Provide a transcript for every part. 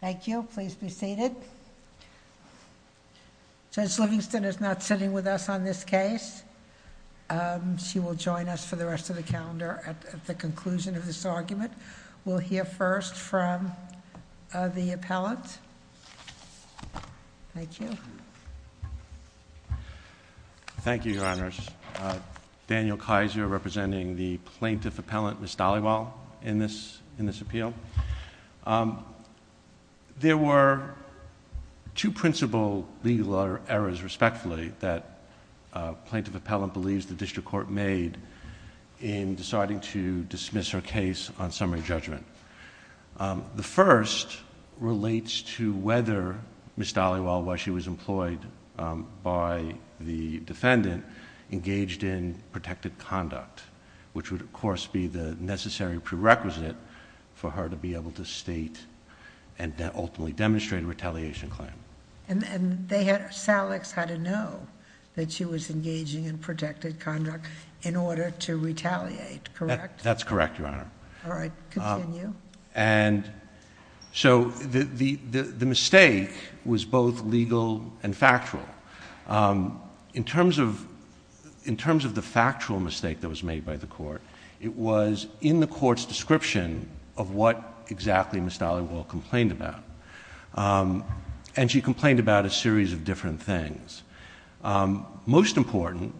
Thank you. Please be seated. Judge Livingston is not sitting with us on this case. She will join us for the rest of the calendar at the conclusion of this argument. We'll hear first from the appellant. Thank you. Thank you, Your Honors. Daniel Kaiser, representing the plaintiff appellant, Ms. Dhaliwal, in this appeal. There were two principal legal errors, respectfully, that plaintiff appellant believes the district court made in deciding to dismiss her case on summary judgment. The first relates to whether Ms. Dhaliwal, while she was employed by the defendant, engaged in protected conduct, which would, of course, be the necessary prerequisite for her to be able to state and ultimately demonstrate a retaliation claim. And Salix had to know that she was engaging in protected conduct in order to retaliate, correct? That's correct, Your Honor. All right. Continue. And so the mistake was both legal and factual. In terms of the factual mistake that was made by the court, it was in the court's description of what exactly Ms. Dhaliwal complained about. And she complained about a series of different things. Most important,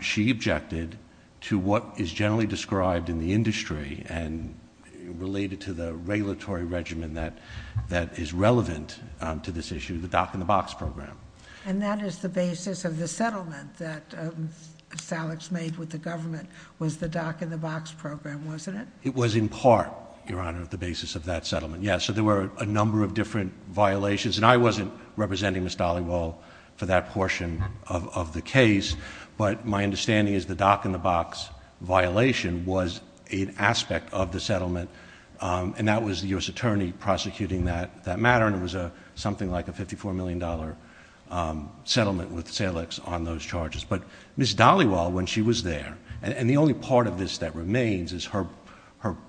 she objected to what is generally described in the industry and related to the regulatory regimen that is relevant to this issue, the dock-in-the-box program. And that is the basis of the settlement that Salix made with the government, was the dock-in-the-box program, wasn't it? It was in part, Your Honor, the basis of that settlement, yes. So there were a number of different violations. And I wasn't representing Ms. Dhaliwal for that portion of the case, but my understanding is the dock-in-the-box violation was an aspect of the settlement. And that was the U.S. Attorney prosecuting that matter, and it was something like a $54 million settlement with Salix on those charges. But Ms. Dhaliwal, when she was there, and the only part of this that remains is her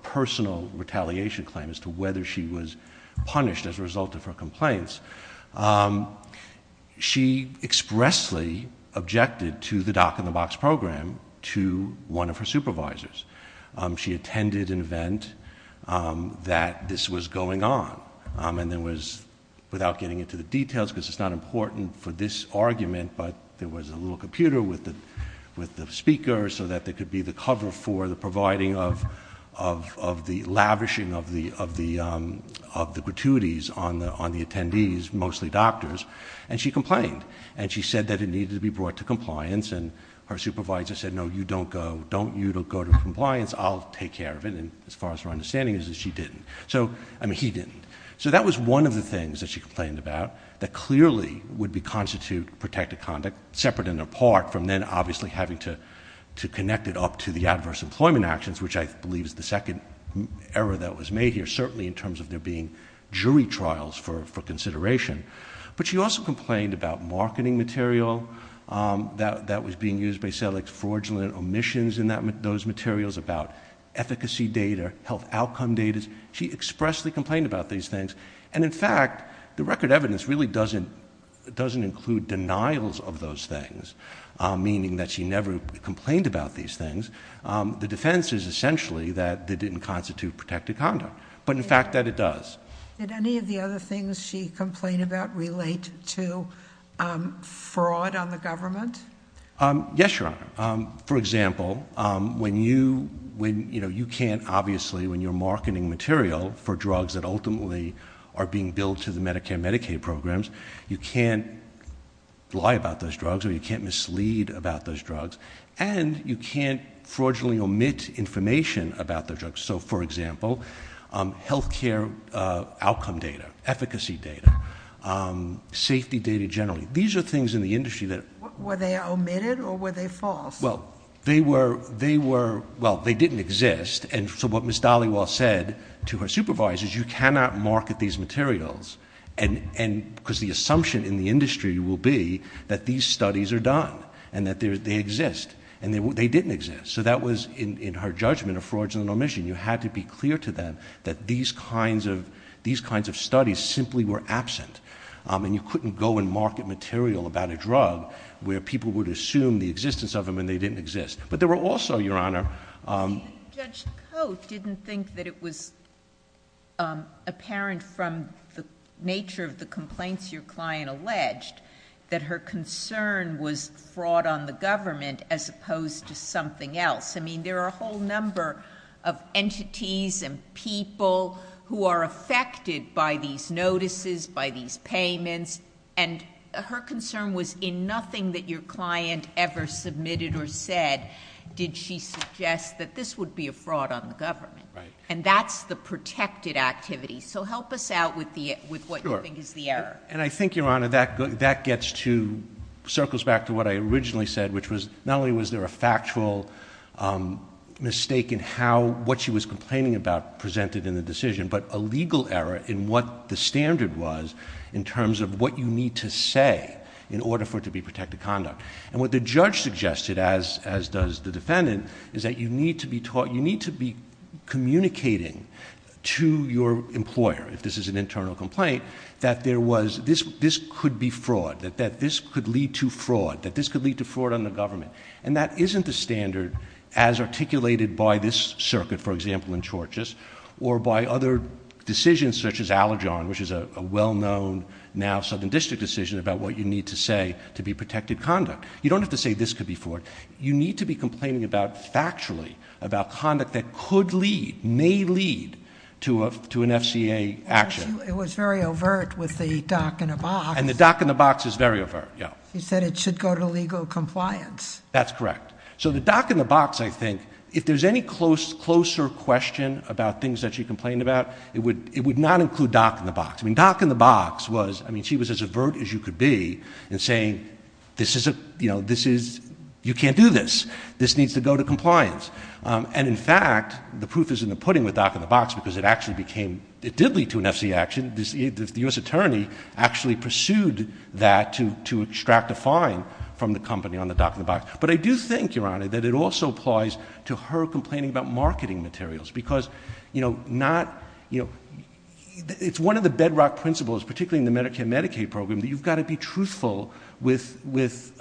personal retaliation claim as to whether she was punished as a result of her complaints, yes, she expressly objected to the dock-in-the-box program to one of her supervisors. She attended an event that this was going on, and there was, without getting into the details, because it's not important for this argument, but there was a little computer with the speaker so that there could be the cover for the providing of the lavishing of the gratuities on the attendees, mostly doctors, and she complained. And she said that it needed to be brought to compliance, and her supervisor said, no, you don't go. Don't you go to compliance. I'll take care of it. And as far as her understanding is, she didn't. So, I mean, he didn't. So that was one of the things that she complained about that clearly would constitute protective conduct, separate and apart from then obviously having to connect it up to the adverse employment actions, which I believe is the second error that was made here, certainly in terms of there being jury trials for consideration. But she also complained about marketing material that was being used, fraudulent omissions in those materials, about efficacy data, health outcome data. She expressly complained about these things. And in fact, the record evidence really doesn't include denials of those things, meaning that she never complained about these things. The defense is essentially that they didn't constitute protective conduct. But in fact, that it does. Did any of the other things she complained about relate to fraud on the government? Yes, Your Honor. For example, when you can't obviously, when you're marketing material for drugs that ultimately are being billed to the Medicare and Medicaid programs, you can't lie about those drugs, or you can't mislead about those drugs. And you can't fraudulently omit information about those drugs. So, for example, health care outcome data, efficacy data, safety data generally. These are things in the industry that... Were they omitted or were they false? Well, they didn't exist. And so what Ms. Dollywell said to her supervisors, you cannot market these materials. Because the assumption in the industry will be that these studies are done, and that they exist. And they didn't exist. So that was in her judgment of fraudulently omission. You had to be clear to them that these kinds of studies simply were absent. And you couldn't go and market material about a drug where people would assume the existence of them and they didn't exist. But there were also, Your Honor... But you think Judge Coates didn't think that it was apparent from the nature of the complaints your client alleged, that her concern was fraud on the government as opposed to something else. I mean, there are a whole number of entities and people who are affected by these notices, by these payments. And her concern was in nothing that your client ever submitted or said did she suggest that this would be a fraud on the government. And that's the protected activity. So help us out with what you think is the error. And I think, Your Honor, that gets to, circles back to what I originally said, which was not only was there a factual mistake in how, what she was complaining about presented in the decision, but a legal error in what the standard was in terms of what you need to say in order for it to be protected conduct. And what the judge suggested, as does the defendant, is that you need to be communicating to your employer, if this is an internal complaint, that there was, this could be fraud, that this could lead to fraud, that this could lead to fraud on the government. And that isn't the standard as articulated by this circuit, for example, in Chorchus, or by other decisions such as Alajon, which is a well-known now Southern District decision about what you need to say to be protected conduct. You don't have to say this could be fraud. You need to be complaining about, factually, about conduct that could lead, may lead to an FCA action. It was very overt with the dock in the box. And the dock in the box is very overt, yeah. You said it should go to legal compliance. That's correct. So the dock in the box, I think, if there's any close, closer question about things that she complained about, it would, it would not include dock in the box. I mean, dock in the box was, I mean, she was as overt as you could be in saying, this is a, you know, this is, you can't do this. This needs to go to compliance. And in fact, the proof is in the pudding with dock in the box, because it actually became, it did lead to an FCA action. The U.S. attorney actually pursued that to, to extract a fine from the company on the dock in the box. But I do think, Your Honor, that it also applies to her complaining about marketing materials, because, you know, not, you know, it's one of the bedrock principles, particularly in the Medicare Medicaid program, that you've got to be truthful with, with,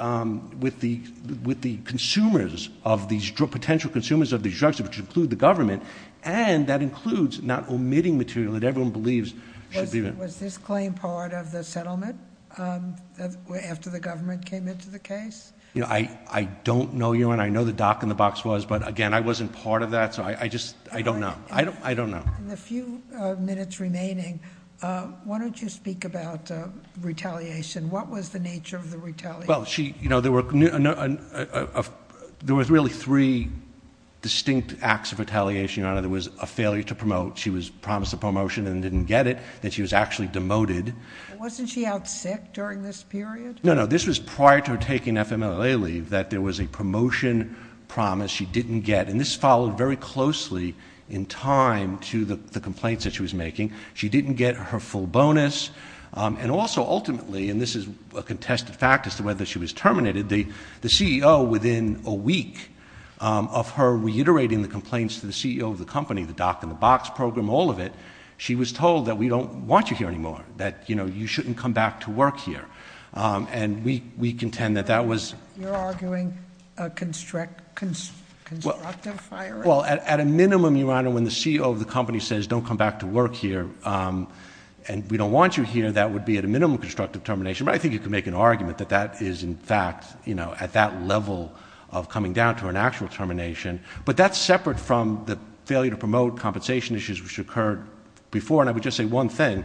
with the, with the consumers of these potential consumers of these drugs, which include the government. And that includes not omitting material that everyone believes should be there. Was this claim part of the settlement after the government came into the case? You know, I, I don't know, Your Honor, I know the dock in the box was, but again, I wasn't part of that. So I, I just, I don't know. I don't, I don't know. In the few minutes remaining, why don't you speak about retaliation? What was the nature of the retaliation? Well, she, you know, there were, there was really three distinct acts of retaliation, Your Honor. There was a failure to promote. She was promised a promotion and didn't get it, that she was actually demoted. Wasn't she out sick during this period? No, no. This was prior to her taking FMLA leave, that there was a promotion promise she didn't get. And this followed very closely in time to the complaints that she was making. She didn't get her full bonus. And also, ultimately, and this is a contested fact as to whether she was terminated, the, the CEO within a week of her reiterating the complaints to the CEO of the company, the dock in the box program, all of it, she was told that we don't want you here anymore, that, you know, you shouldn't come back to work here. And we, we contend that that was. You're arguing a construct, constructive firing? Well, at a minimum, Your Honor, when the CEO of the company says, don't come back to work here and we don't want you here, that would be at a minimum constructive termination. I think you could make an argument that that is in fact, you know, at that level of coming down to an actual termination, but that's separate from the failure to promote compensation issues which occurred before. And I would just say one thing.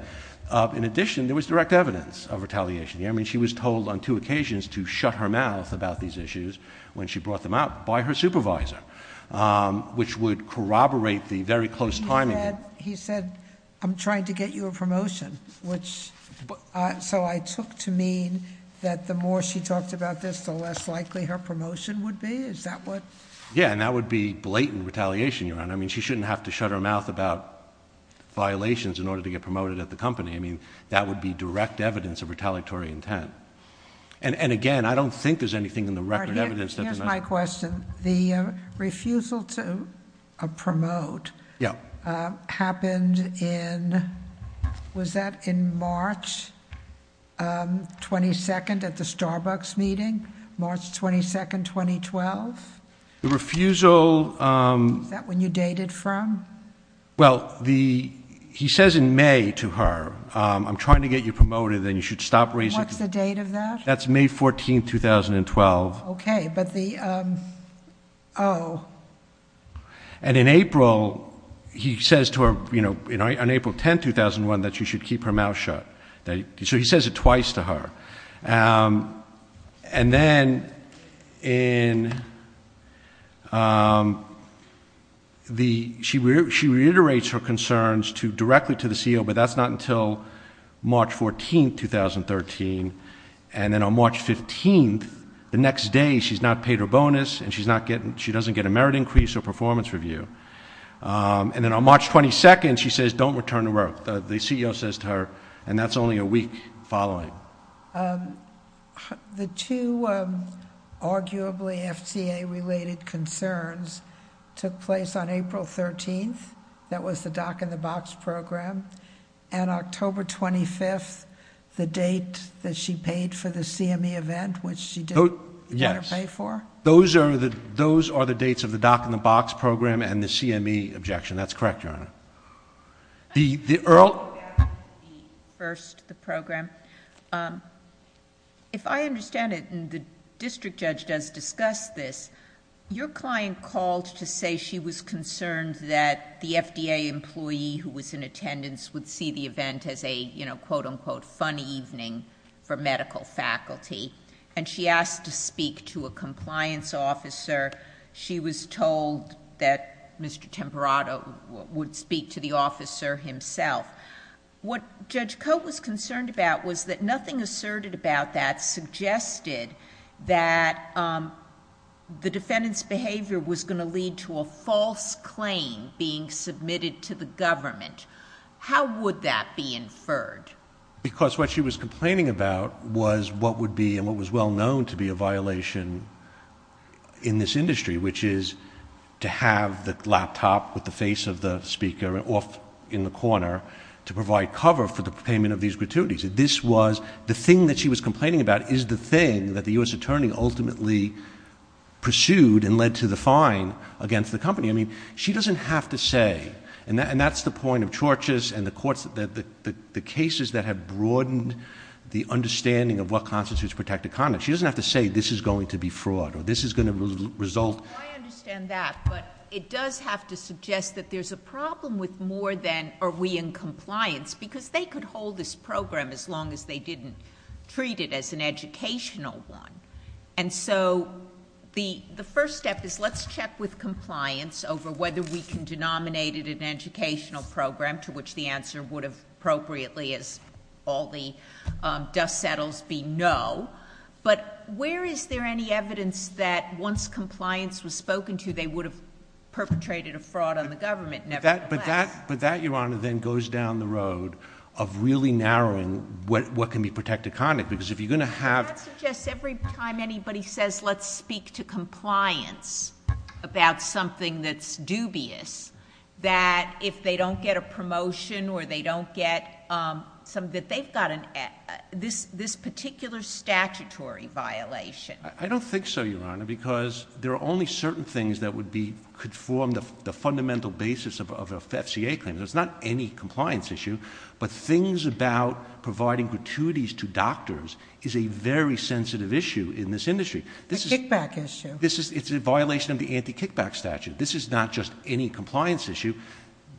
In addition, there was direct evidence of retaliation. I mean, she was told on two occasions to shut her mouth about these issues when she brought them out by her supervisor, which would corroborate the very close timing. He said, he said, I'm trying to get you a promotion, which, uh, so I took to mean that the more she talked about this, the less likely her promotion would be? Is that what? Yeah. And that would be blatant retaliation, Your Honor. I mean, she shouldn't have to shut her mouth about violations in order to get promoted at the company. I mean, that would be direct evidence of retaliatory intent. And, and again, I don't think there's anything in the record evidence that. Here's my question. The refusal to promote, uh, happened in, was that in March? Um, 22nd at the Starbucks meeting, March 22nd, 2012. The refusal, um, is that when you dated from? Well, the, he says in May to her, um, I'm trying to get you promoted and you should stop raising. What's the date of that? That's May 14th, 2012. Okay. But the, um, oh. And in April he says to her, you know, on April 10th, 2001, that you should keep her mouth shut. So he says it twice to her. Um, and then in, um, the, she, she reiterates her and then on March 15th, the next day, she's not paid her bonus and she's not getting, she doesn't get a merit increase or performance review. Um, and then on March 22nd, she says don't return to work. The CEO says to her, and that's only a week following. Um, the two, um, arguably FCA related concerns took place on April 13th. That was the Doc in the Box program and the CME objection. That's correct, Your Honor. The, the Earl... First, the program. Um, if I understand it and the district judge does discuss this, your client called to say she was concerned that the FDA employee who was in attendance would see the event as a, you know, quote unquote, funny evening for medical faculty. And she asked to speak to a compliance officer. She was told that Mr. Temperato would speak to the officer himself. What Judge Coate was concerned about was that nothing asserted about that suggested that, um, the defendant's behavior was going to lead to a false claim being submitted to the government. How would that be inferred? Because what she was complaining about was what would be and what was well known to be a violation in this industry, which is to have the laptop with the face of the speaker off in the corner to provide cover for the payment of these gratuities. This was the thing that she was complaining about is the thing that the U.S. attorney ultimately pursued and led to the fine against the company. I mean, she doesn't have to say, and that, and that's the point of churches and the courts that the, the, the cases that have broadened the understanding of what constitutes protected conduct. She doesn't have to say this is going to be fraud or this is going to result. I understand that, but it does have to suggest that there's a problem with more than are we in compliance because they could hold this program as long as they didn't treat it as an educational one. And so the, the first step is let's check with compliance over whether we can denominate it an educational program to which the answer would have appropriately as all the dust settles be no. But where is there any evidence that once compliance was spoken to, they would have perpetrated a fraud on the government? But that, but that, but that Your Honor then goes down the road of really narrowing what, what can be protected conduct. Because if you're going to have I suggest every time anybody says, let's speak to compliance about something that's dubious, that if they don't get a promotion or they don't get some, that they've got an, this, this particular statutory violation. I don't think so, Your Honor, because there are only certain things that would be could form the fundamental basis of a FCA claim. There's not any compliance issue, but things about providing gratuities to doctors is a very sensitive issue in this industry. This is a kickback issue. This is, it's a violation of the anti-kickback statute. This is not just any compliance issue.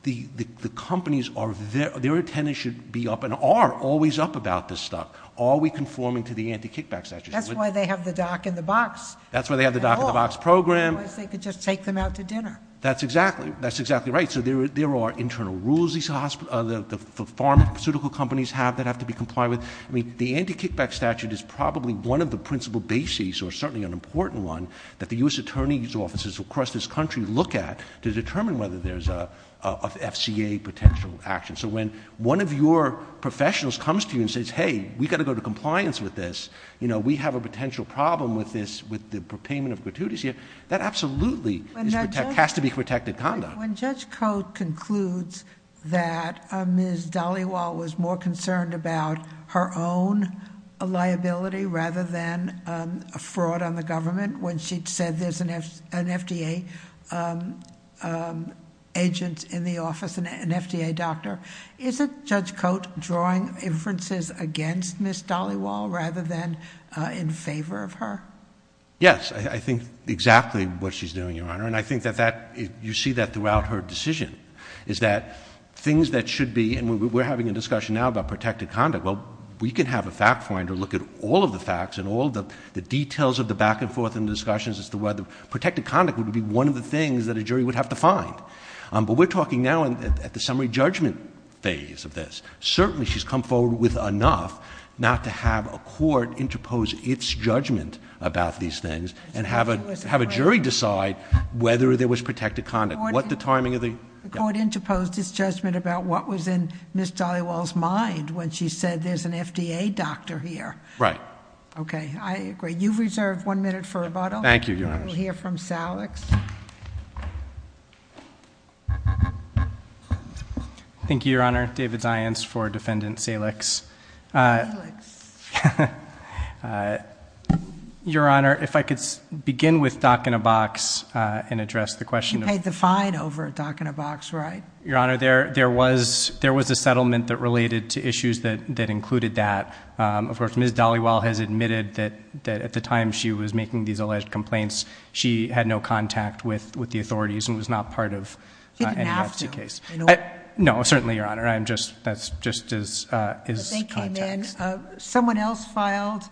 The, the, the companies are, their, their attendance should be up and are always up about this stuff. Are we conforming to the anti-kickback statute? That's why they have the dock in the box. That's why they have the dock in the box program. Because they could just take them out to dinner. That's exactly, that's exactly right. So there, there are internal rules. These hospitals, the pharmaceutical companies have that have to be complied with. I mean, the anti-kickback statute is probably one of the principal bases or certainly an important one that the U.S. Attorney's offices across this country look at to determine whether there's a, a, a FCA potential action. So when one of your professionals comes to you and says, hey, we've got to go to compliance with this, you know, we have a potential problem with this, with the payment of gratuities here, that absolutely is, has to be protected conduct. When Judge Cote concludes that Ms. Dhaliwal was more concerned about her own liability rather than a fraud on the government, when she'd said there's an F, an FDA agent in the office and an FDA doctor, is it Judge Cote drawing inferences against Ms. Dhaliwal rather than in favor of her? Yes, I think exactly what she's doing, Your Honor. And I think that that, you see that throughout her decision, is that things that should be, and we're having a discussion now about protected conduct, well, we can have a fact finder look at all of the facts and all of the details of the back and forth in the discussions as to whether protected conduct would be one of the things that a jury would have to find. But we're talking now at the summary judgment phase of this. Certainly she's come forward with enough not to have a court interpose its judgment about these things and have a, have a jury decide whether there was protected conduct. What the timing of the... The court interposed its judgment about what was in Ms. Dhaliwal's mind when she said there's an FDA doctor here. Right. Okay, I agree. You've reserved one minute for rebuttal. Thank you, Your Honor. We'll hear from Salix. Thank you, Your Honor. David Zients for Defendant Salix. Salix. Your Honor, if I could begin with Doc in a Box and address the question of... You paid the fine over Doc in a Box, right? Your Honor, there was a settlement that related to issues that included that. Of course, Ms. Dhaliwal has admitted that at the time she was making these alleged complaints, she had no contact with the authorities and was not part of any NFC case. You didn't have to. No, certainly, Your Honor. I'm just, that's just his, uh, his contacts. Someone else filed,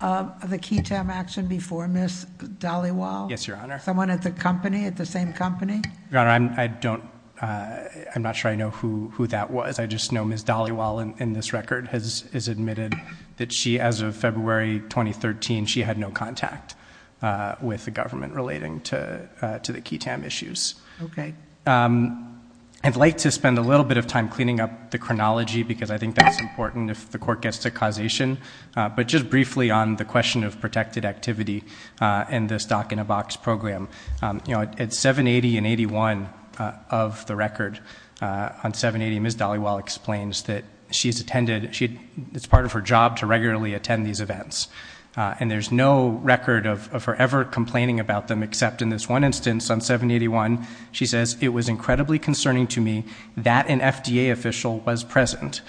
uh, the QITAM action before Ms. Dhaliwal? Yes, Your Honor. Someone at the company, at the same company? Your Honor, I'm, I don't, uh, I'm not sure I know who, who that was. I just know Ms. Dhaliwal in, in this record has, has admitted that she, as of February 2013, she had no contact, uh, with the government relating to, uh, to the QITAM issues. Okay. Um, I'd like to spend a little bit of time cleaning up the chronology because I think that's important if the court gets to causation, uh, but just briefly on the question of protected activity, uh, in this Doc in a Box program. Um, you know, at 780 and 81, uh, of the record, uh, on 780, Ms. Dhaliwal explains that she's attended, she, it's part of her job to regularly attend these events, uh, and there's no record of, of her ever complaining about them except in this one instance on 781, she says, it was incredibly concerning to me that an FDA official was present.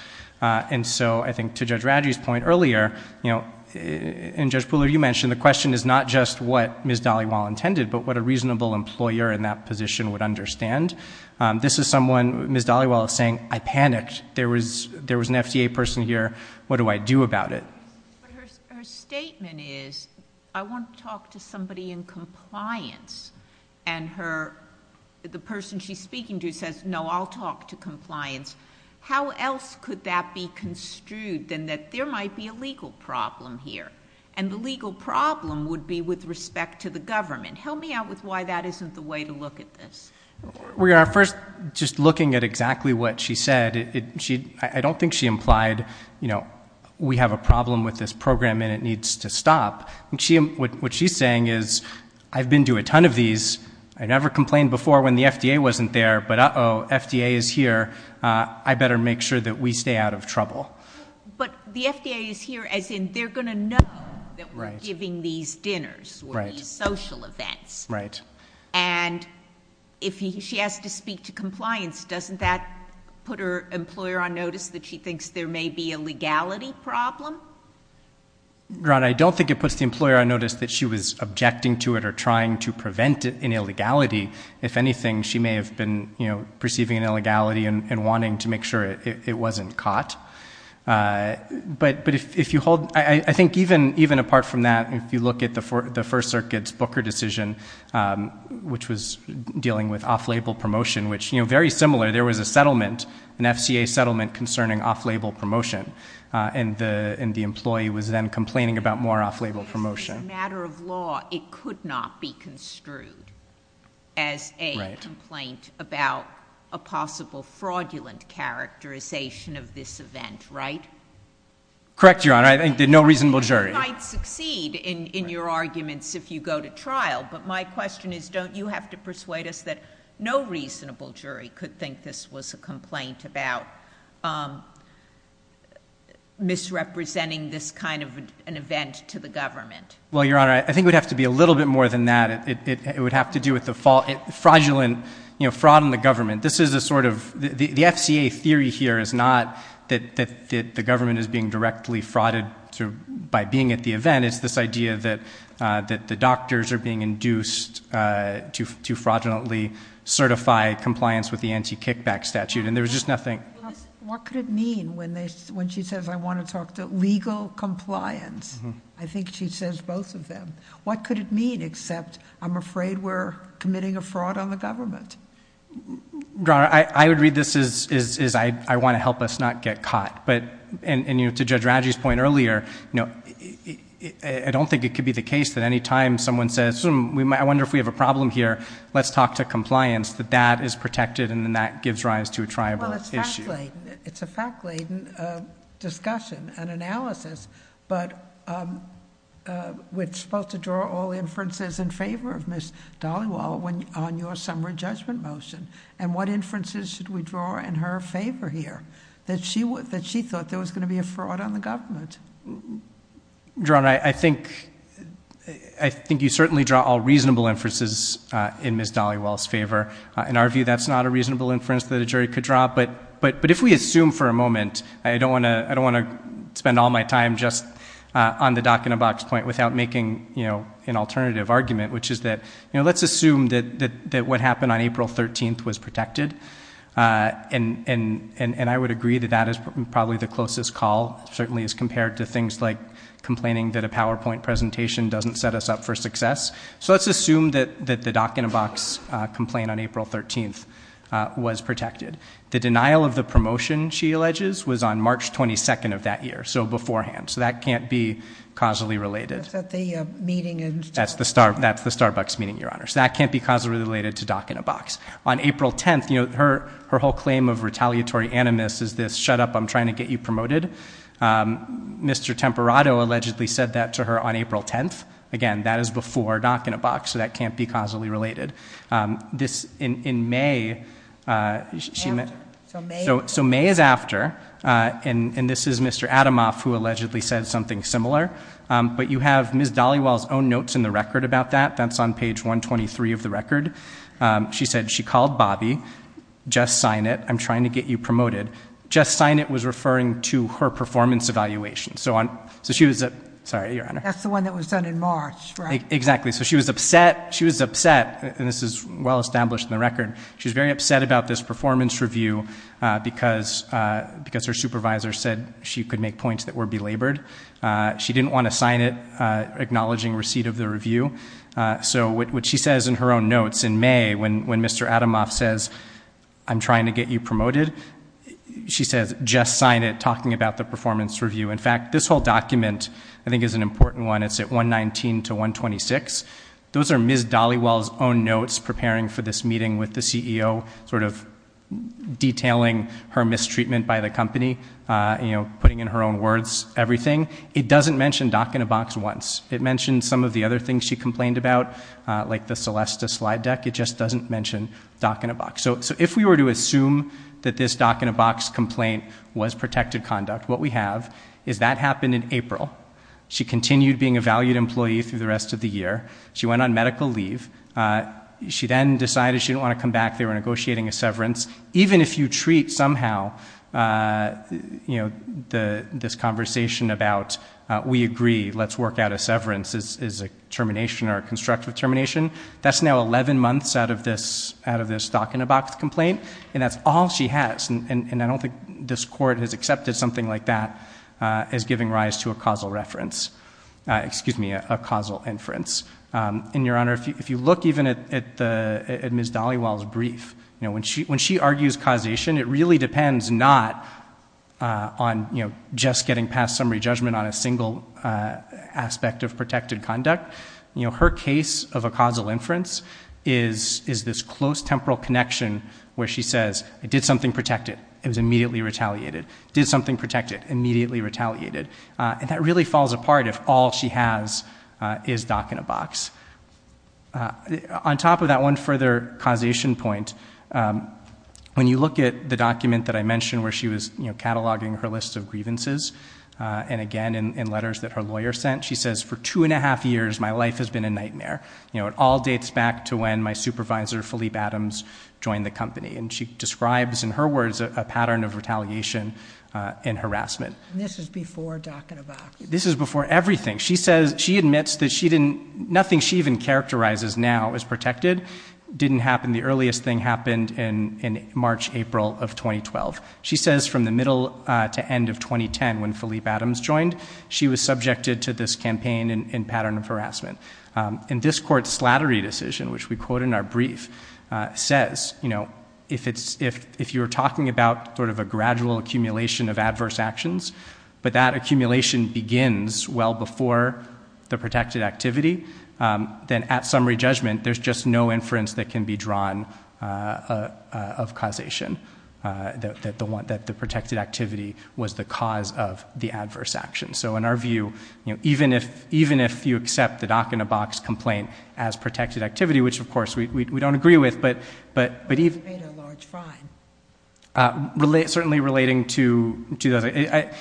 Uh, and so I think to Judge Radji's point earlier, you know, and Judge Pooler, you mentioned the question is not just what Ms. Dhaliwal intended, but what a reasonable employer in that position would understand. Um, this is someone, Ms. Dhaliwal is saying, I panicked. There was, there was an FDA person here. What do I do about it? But her, her statement is, I want to talk to somebody in compliance and her, the person she's speaking to says, no, I'll talk to compliance. How else could that be construed than that there might be a legal problem here? And the legal problem would be with respect to the government. Help me out with why that isn't the way to look at this. We are first just looking at exactly what she said. It, she, I don't think she implied, you know, we have a problem with this program and it needs to stop. And she, what she's saying is I've been to a ton of these. I never complained before when the FDA wasn't there, but uh-oh, FDA is here. Uh, I better make sure that we stay out of trouble. But the FDA is here as in, they're going to know that we're giving these dinners or these social events. Right. And if he, she has to speak to compliance, doesn't that put her on notice that she thinks there may be a legality problem? Ron, I don't think it puts the employer on notice that she was objecting to it or trying to prevent it in illegality. If anything, she may have been, you know, perceiving an illegality and wanting to make sure it wasn't caught. Uh, but, but if, if you hold, I think even, even apart from that, if you look at the four, the first circuit's Booker decision, um, which was dealing with off-label promotion, which, you know, very similar, there was a settlement concerning off-label promotion, uh, and the, and the employee was then complaining about more off-label promotion. If this is a matter of law, it could not be construed as a complaint about a possible fraudulent characterization of this event, right? Correct, Your Honor. I think that no reasonable jury. You might succeed in, in your arguments if you go to trial, but my question is, don't you have to persuade us that no reasonable jury could think this was a complaint about, um, misrepresenting this kind of an event to the government? Well, Your Honor, I think it would have to be a little bit more than that. It, it, it would have to do with the fraudulent, you know, fraud in the government. This is a sort of, the, the FCA theory here is not that, that, that the government is being directly frauded through, by being at the event. It's this idea that, uh, that the doctors are being induced, uh, to, to fraudulently certify compliance with the anti-kickback statute, and there was just nothing. What could it mean when they, when she says, I want to talk to legal compliance? I think she says both of them. What could it mean except, I'm afraid we're committing a fraud on the government? Your Honor, I, I would read this as, as, as I, I want to help us not get caught, but, and, and, you know, to Judge Raggi's point earlier, you know, I, I don't think it could be the case that any time someone says, I wonder if we have a problem here, let's talk to compliance, that that is protected, and then that gives rise to a tribal issue. Well, it's fact-laden. It's a fact-laden, uh, discussion and analysis, but, um, uh, we're supposed to draw all inferences in favor of Ms. Dhaliwal when, on your summary judgment motion, and what inferences should we draw in her favor here? That she would, that she thought there was going to be a fraud on the government. Your Honor, I, I think, I think you certainly draw all reasonable inferences, uh, in Ms. Dhaliwal's favor. Uh, in our view, that's not a reasonable inference that a jury could draw, but, but, but if we assume for a moment, I don't want to, I don't want to spend all my time just, uh, on the dock and a box point without making, you know, an alternative argument, which is that, you know, let's assume that, that, that what happened on April 13th was the closest call, certainly as compared to things like complaining that a PowerPoint presentation doesn't set us up for success. So let's assume that, that the dock and a box, uh, complaint on April 13th, uh, was protected. The denial of the promotion, she alleges, was on March 22nd of that year. So beforehand. So that can't be causally related. That's at the, uh, meeting in... That's the Star, that's the Starbucks meeting, Your Honor. So that can't be causally related to dock and a box. On April 10th, you know, her, her whole claim of retaliatory animus is this, shut up, I'm trying to get you promoted. Um, Mr. Temperato allegedly said that to her on April 10th. Again, that is before dock and a box. So that can't be causally related. Um, this in, in May, uh, she met, so, so May is after, uh, and, and this is Mr. Atomoff who allegedly said something similar. Um, but you have Ms. Dollywell's own notes in the record about that. That's on page one 23 of the record. Um, she said she called Bobby, just sign it. I'm trying to get you promoted. Just sign it was referring to her performance evaluation. So on, so she was at, sorry, Your Honor. That's the one that was done in March, right? Exactly. So she was upset. She was upset and this is well established in the record. She's very upset about this performance review, uh, because, uh, because her supervisor said she could make points that were belabored. Uh, she didn't want to sign it, uh, acknowledging receipt of the review. Uh, so what she says in her own notes in May when, when Mr. Atomoff says, I'm trying to get you promoted, she says, just sign it talking about the performance review. In fact, this whole document I think is an important one. It's at 119 to 126. Those are Ms. Dollywell's own notes preparing for this meeting with the CEO, sort of detailing her mistreatment by the company. Uh, you know, putting in her own words, everything. It doesn't mention doc in a box once. It mentioned some of the other things she complained about, uh, like the Celesta slide deck. It just doesn't mention doc in a box. So, so if we were to assume that this doc in a box complaint was protected conduct, what we have is that happened in April. She continued being a valued employee through the rest of the year. She went on medical leave. Uh, she then decided she didn't want to come back. They were negotiating a severance. Even if you treat somehow, uh, you know, the, this conversation about, uh, we agree, let's work out a severance is, is a termination or a constructive termination. That's now 11 months out of this, out of this doc in a box complaint. And that's all she has. And I don't think this court has accepted something like that, uh, as giving rise to a causal reference, uh, excuse me, a causal inference. Um, and Your Honor, if you, if you look even at the, at Ms. Dollywell's brief, you know, when she, when she argues causation, it really depends not, uh, on, you know, just getting past summary judgment on a single, uh, aspect of protected conduct. You know, her case of a causal inference is, is this close temporal connection where she says I did something protected. It was immediately retaliated, did something protected, immediately retaliated. Uh, and that really falls apart if all she has, uh, is doc in a box. Uh, on top of that one further causation point, um, when you look at the document that I mentioned where she was, you know, cataloging her list of grievances, uh, and again, in, in letters that her lawyer sent, she says for two and a half years, my life has been a nightmare. You know, it all dates back to when my supervisor Philippe Adams joined the company and she describes in her words, a pattern of retaliation, uh, and harassment. And this is before doc in a box. This is before everything. She says she admits that she didn't, nothing she even characterizes now as protected didn't happen. The earliest thing happened in, in March, April of 2012. She says from the middle, uh, to end of 2010 when Philippe Adams joined, she was subjected to this campaign and pattern of harassment. Um, and this court slattery decision, which we quote in our brief, uh, says, you know, if it's, if, if you were talking about sort of a gradual accumulation of adverse actions, but that accumulation begins well before the protected activity, um, then at summary judgment, there's just no inference that can be drawn, uh, uh, of causation, uh, that the one that the protected activity was the cause of the adverse action. So in our view, you know, even if, even if you accept the doc in a box complaint as protected activity, which of course we, we, we don't agree with, but, but, but even, uh, relate certainly relating to 2008, I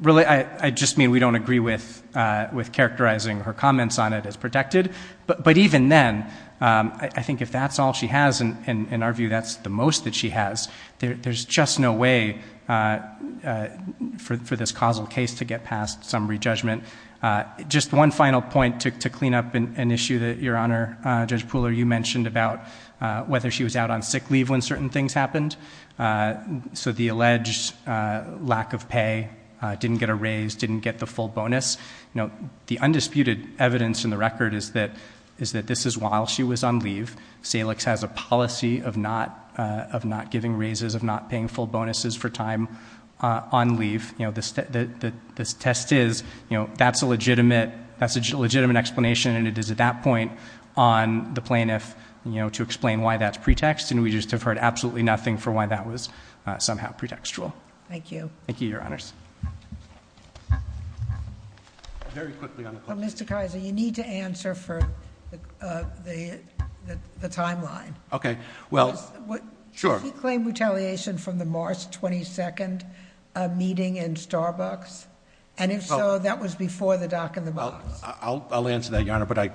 really, I just mean we don't agree with, uh, with characterizing her comments on it as protected, but, but even then, um, I think if that's all she has and in our view, that's the most that she has there, there's just no way, uh, uh, for, for this causal case to get past summary judgment. Uh, just one final point to, to clean up an issue that your honor, uh, judge Pooler, you mentioned about, uh, whether she was out on sick leave when certain things happened. Uh, so the alleged, uh, lack of pay, uh, didn't get a raise, didn't get the full bonus. You know, the undisputed evidence in the record is that, is that this is while she was on leave. Salix has a policy of not, uh, of not giving raises, of not paying full bonuses for time, uh, on leave. You know, the, the, the, this test is, you know, that's a legitimate, that's a legitimate explanation. And it is at that point on the plaintiff, you know, to explain why that's pretext. And we just have heard absolutely nothing for why that was somehow pretextual. Thank you. Thank you, your honors. Very quickly on the question. Mr. Kaiser, you need to answer for the, uh, the, the, the timeline. Okay. Well, sure. Did he claim retaliation from the March 22nd, uh, meeting in Starbucks? And if so, that was before the dock in the box. I'll, I'll, I'll answer that your honor. But I,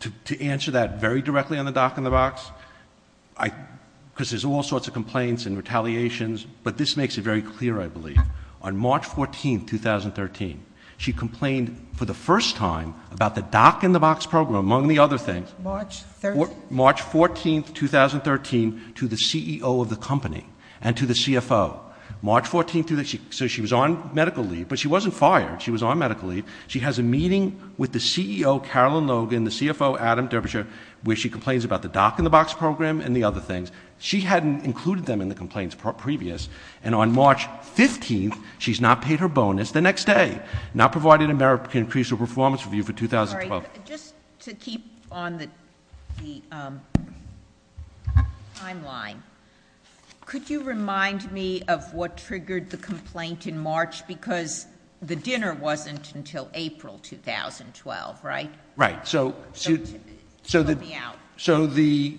to, to answer that very directly on the dock in the box, I, cause there's all sorts of complaints and retaliations, but this makes it very clear. I believe on March 13th, she complained for the first time about the dock in the box program, among the other things. March 13th. March 14th, 2013 to the CEO of the company and to the CFO. March 14th, so she was on medical leave, but she wasn't fired. She was on medical leave. She has a meeting with the CEO, Carolyn Logan, the CFO, Adam Derbyshire, where she complains about the dock in the box program and the other things. She hadn't included them in the complaints previous. And on March 15th, she's not paid her bonus the next day. Not provided a merit increase or performance review for 2012. Sorry, just to keep on the timeline, could you remind me of what triggered the complaint in March? Because the dinner wasn't until April, 2012, right? Right. So, so, so the, so the,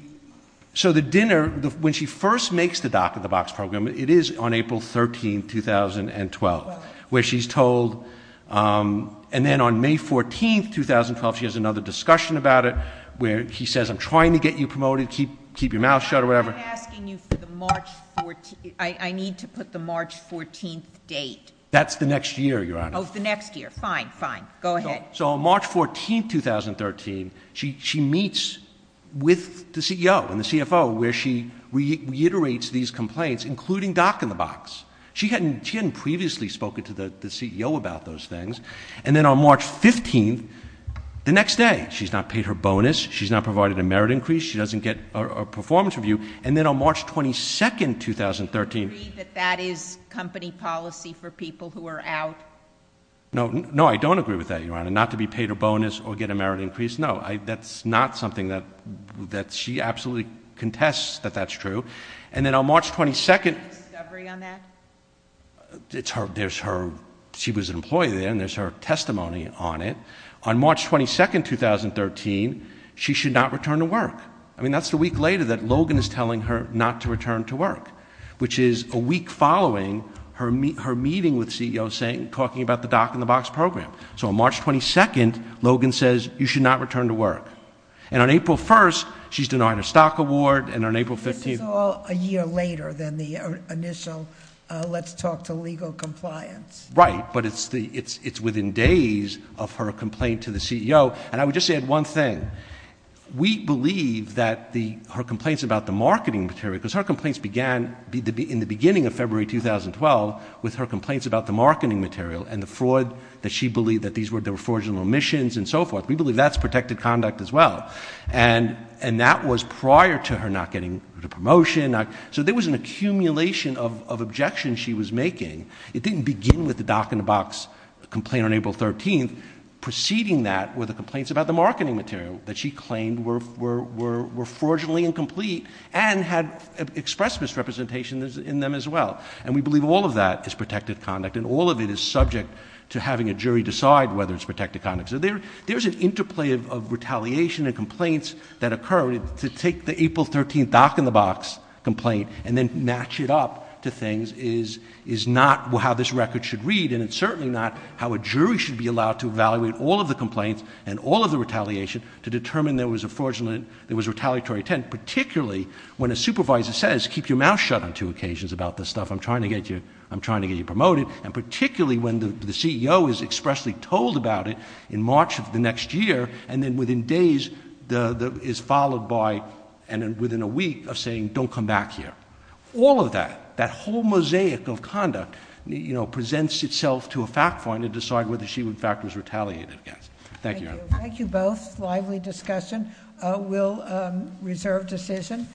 so the dinner, when she first makes the dock in the box program, it is on April 13th, 2012, where she's told, and then on May 14th, 2012, she has another discussion about it, where he says, I'm trying to get you promoted, keep, keep your mouth shut or whatever. I'm asking you for the March 14th, I, I need to put the March 14th date. That's the next year, Your Honor. Oh, the next year. Fine, fine. Go ahead. So, so on March 14th, 2013, she, she meets with the CEO and the CEO meets these complaints, including dock in the box. She hadn't, she hadn't previously spoken to the, the CEO about those things. And then on March 15th, the next day, she's not paid her bonus, she's not provided a merit increase, she doesn't get a, a performance review. And then on March 22nd, 2013. Do you agree that that is company policy for people who are out? No, no, I don't agree with that, Your Honor. Not to be paid a bonus or get a merit increase. No, I, that's not something that, that she absolutely contests that that's true. And then on March 22nd. Is there a discovery on that? It's her, there's her, she was an employee there and there's her testimony on it. On March 22nd, 2013, she should not return to work. I mean, that's the week later that Logan is telling her not to return to work, which is a week following her meet, her meeting with CEO saying, talking about the dock in the box program. So on March 22nd, Logan says, you should not return to later than the initial, uh, let's talk to legal compliance. Right. But it's the, it's, it's within days of her complaint to the CEO. And I would just add one thing. We believe that the, her complaints about the marketing material, because her complaints began in the beginning of February, 2012, with her complaints about the marketing material and the fraud that she believed that these were, there were fraudulent omissions and so forth. We believe that's protected conduct as well. And, and that was prior to her not getting a promotion. So there was an accumulation of objections she was making. It didn't begin with the dock in the box complaint on April 13th. Preceding that were the complaints about the marketing material that she claimed were, were, were, were fraudulently incomplete and had expressed misrepresentation in them as well. And we believe all of that is protected conduct and all of it is subject to having a jury decide whether it's protected conduct. So there, there's an interplay of, of retaliation and complaints that occurred to take the April 13th dock in the box complaint and then match it up to things is, is not how this record should read. And it's certainly not how a jury should be allowed to evaluate all of the complaints and all of the retaliation to determine there was a fraudulent, there was retaliatory intent, particularly when a supervisor says, keep your mouth shut on two occasions about this stuff. I'm trying to get you, I'm trying to get you promoted. And particularly when the, the CEO is expressly told about it in March of the next year and then within days the, the, is followed by, and then within a week of saying, don't come back here. All of that, that whole mosaic of conduct, you know, presents itself to a fact finder to decide whether she would in fact was retaliated against. Thank you. Thank you both. Lively discussion. We'll reserve decision.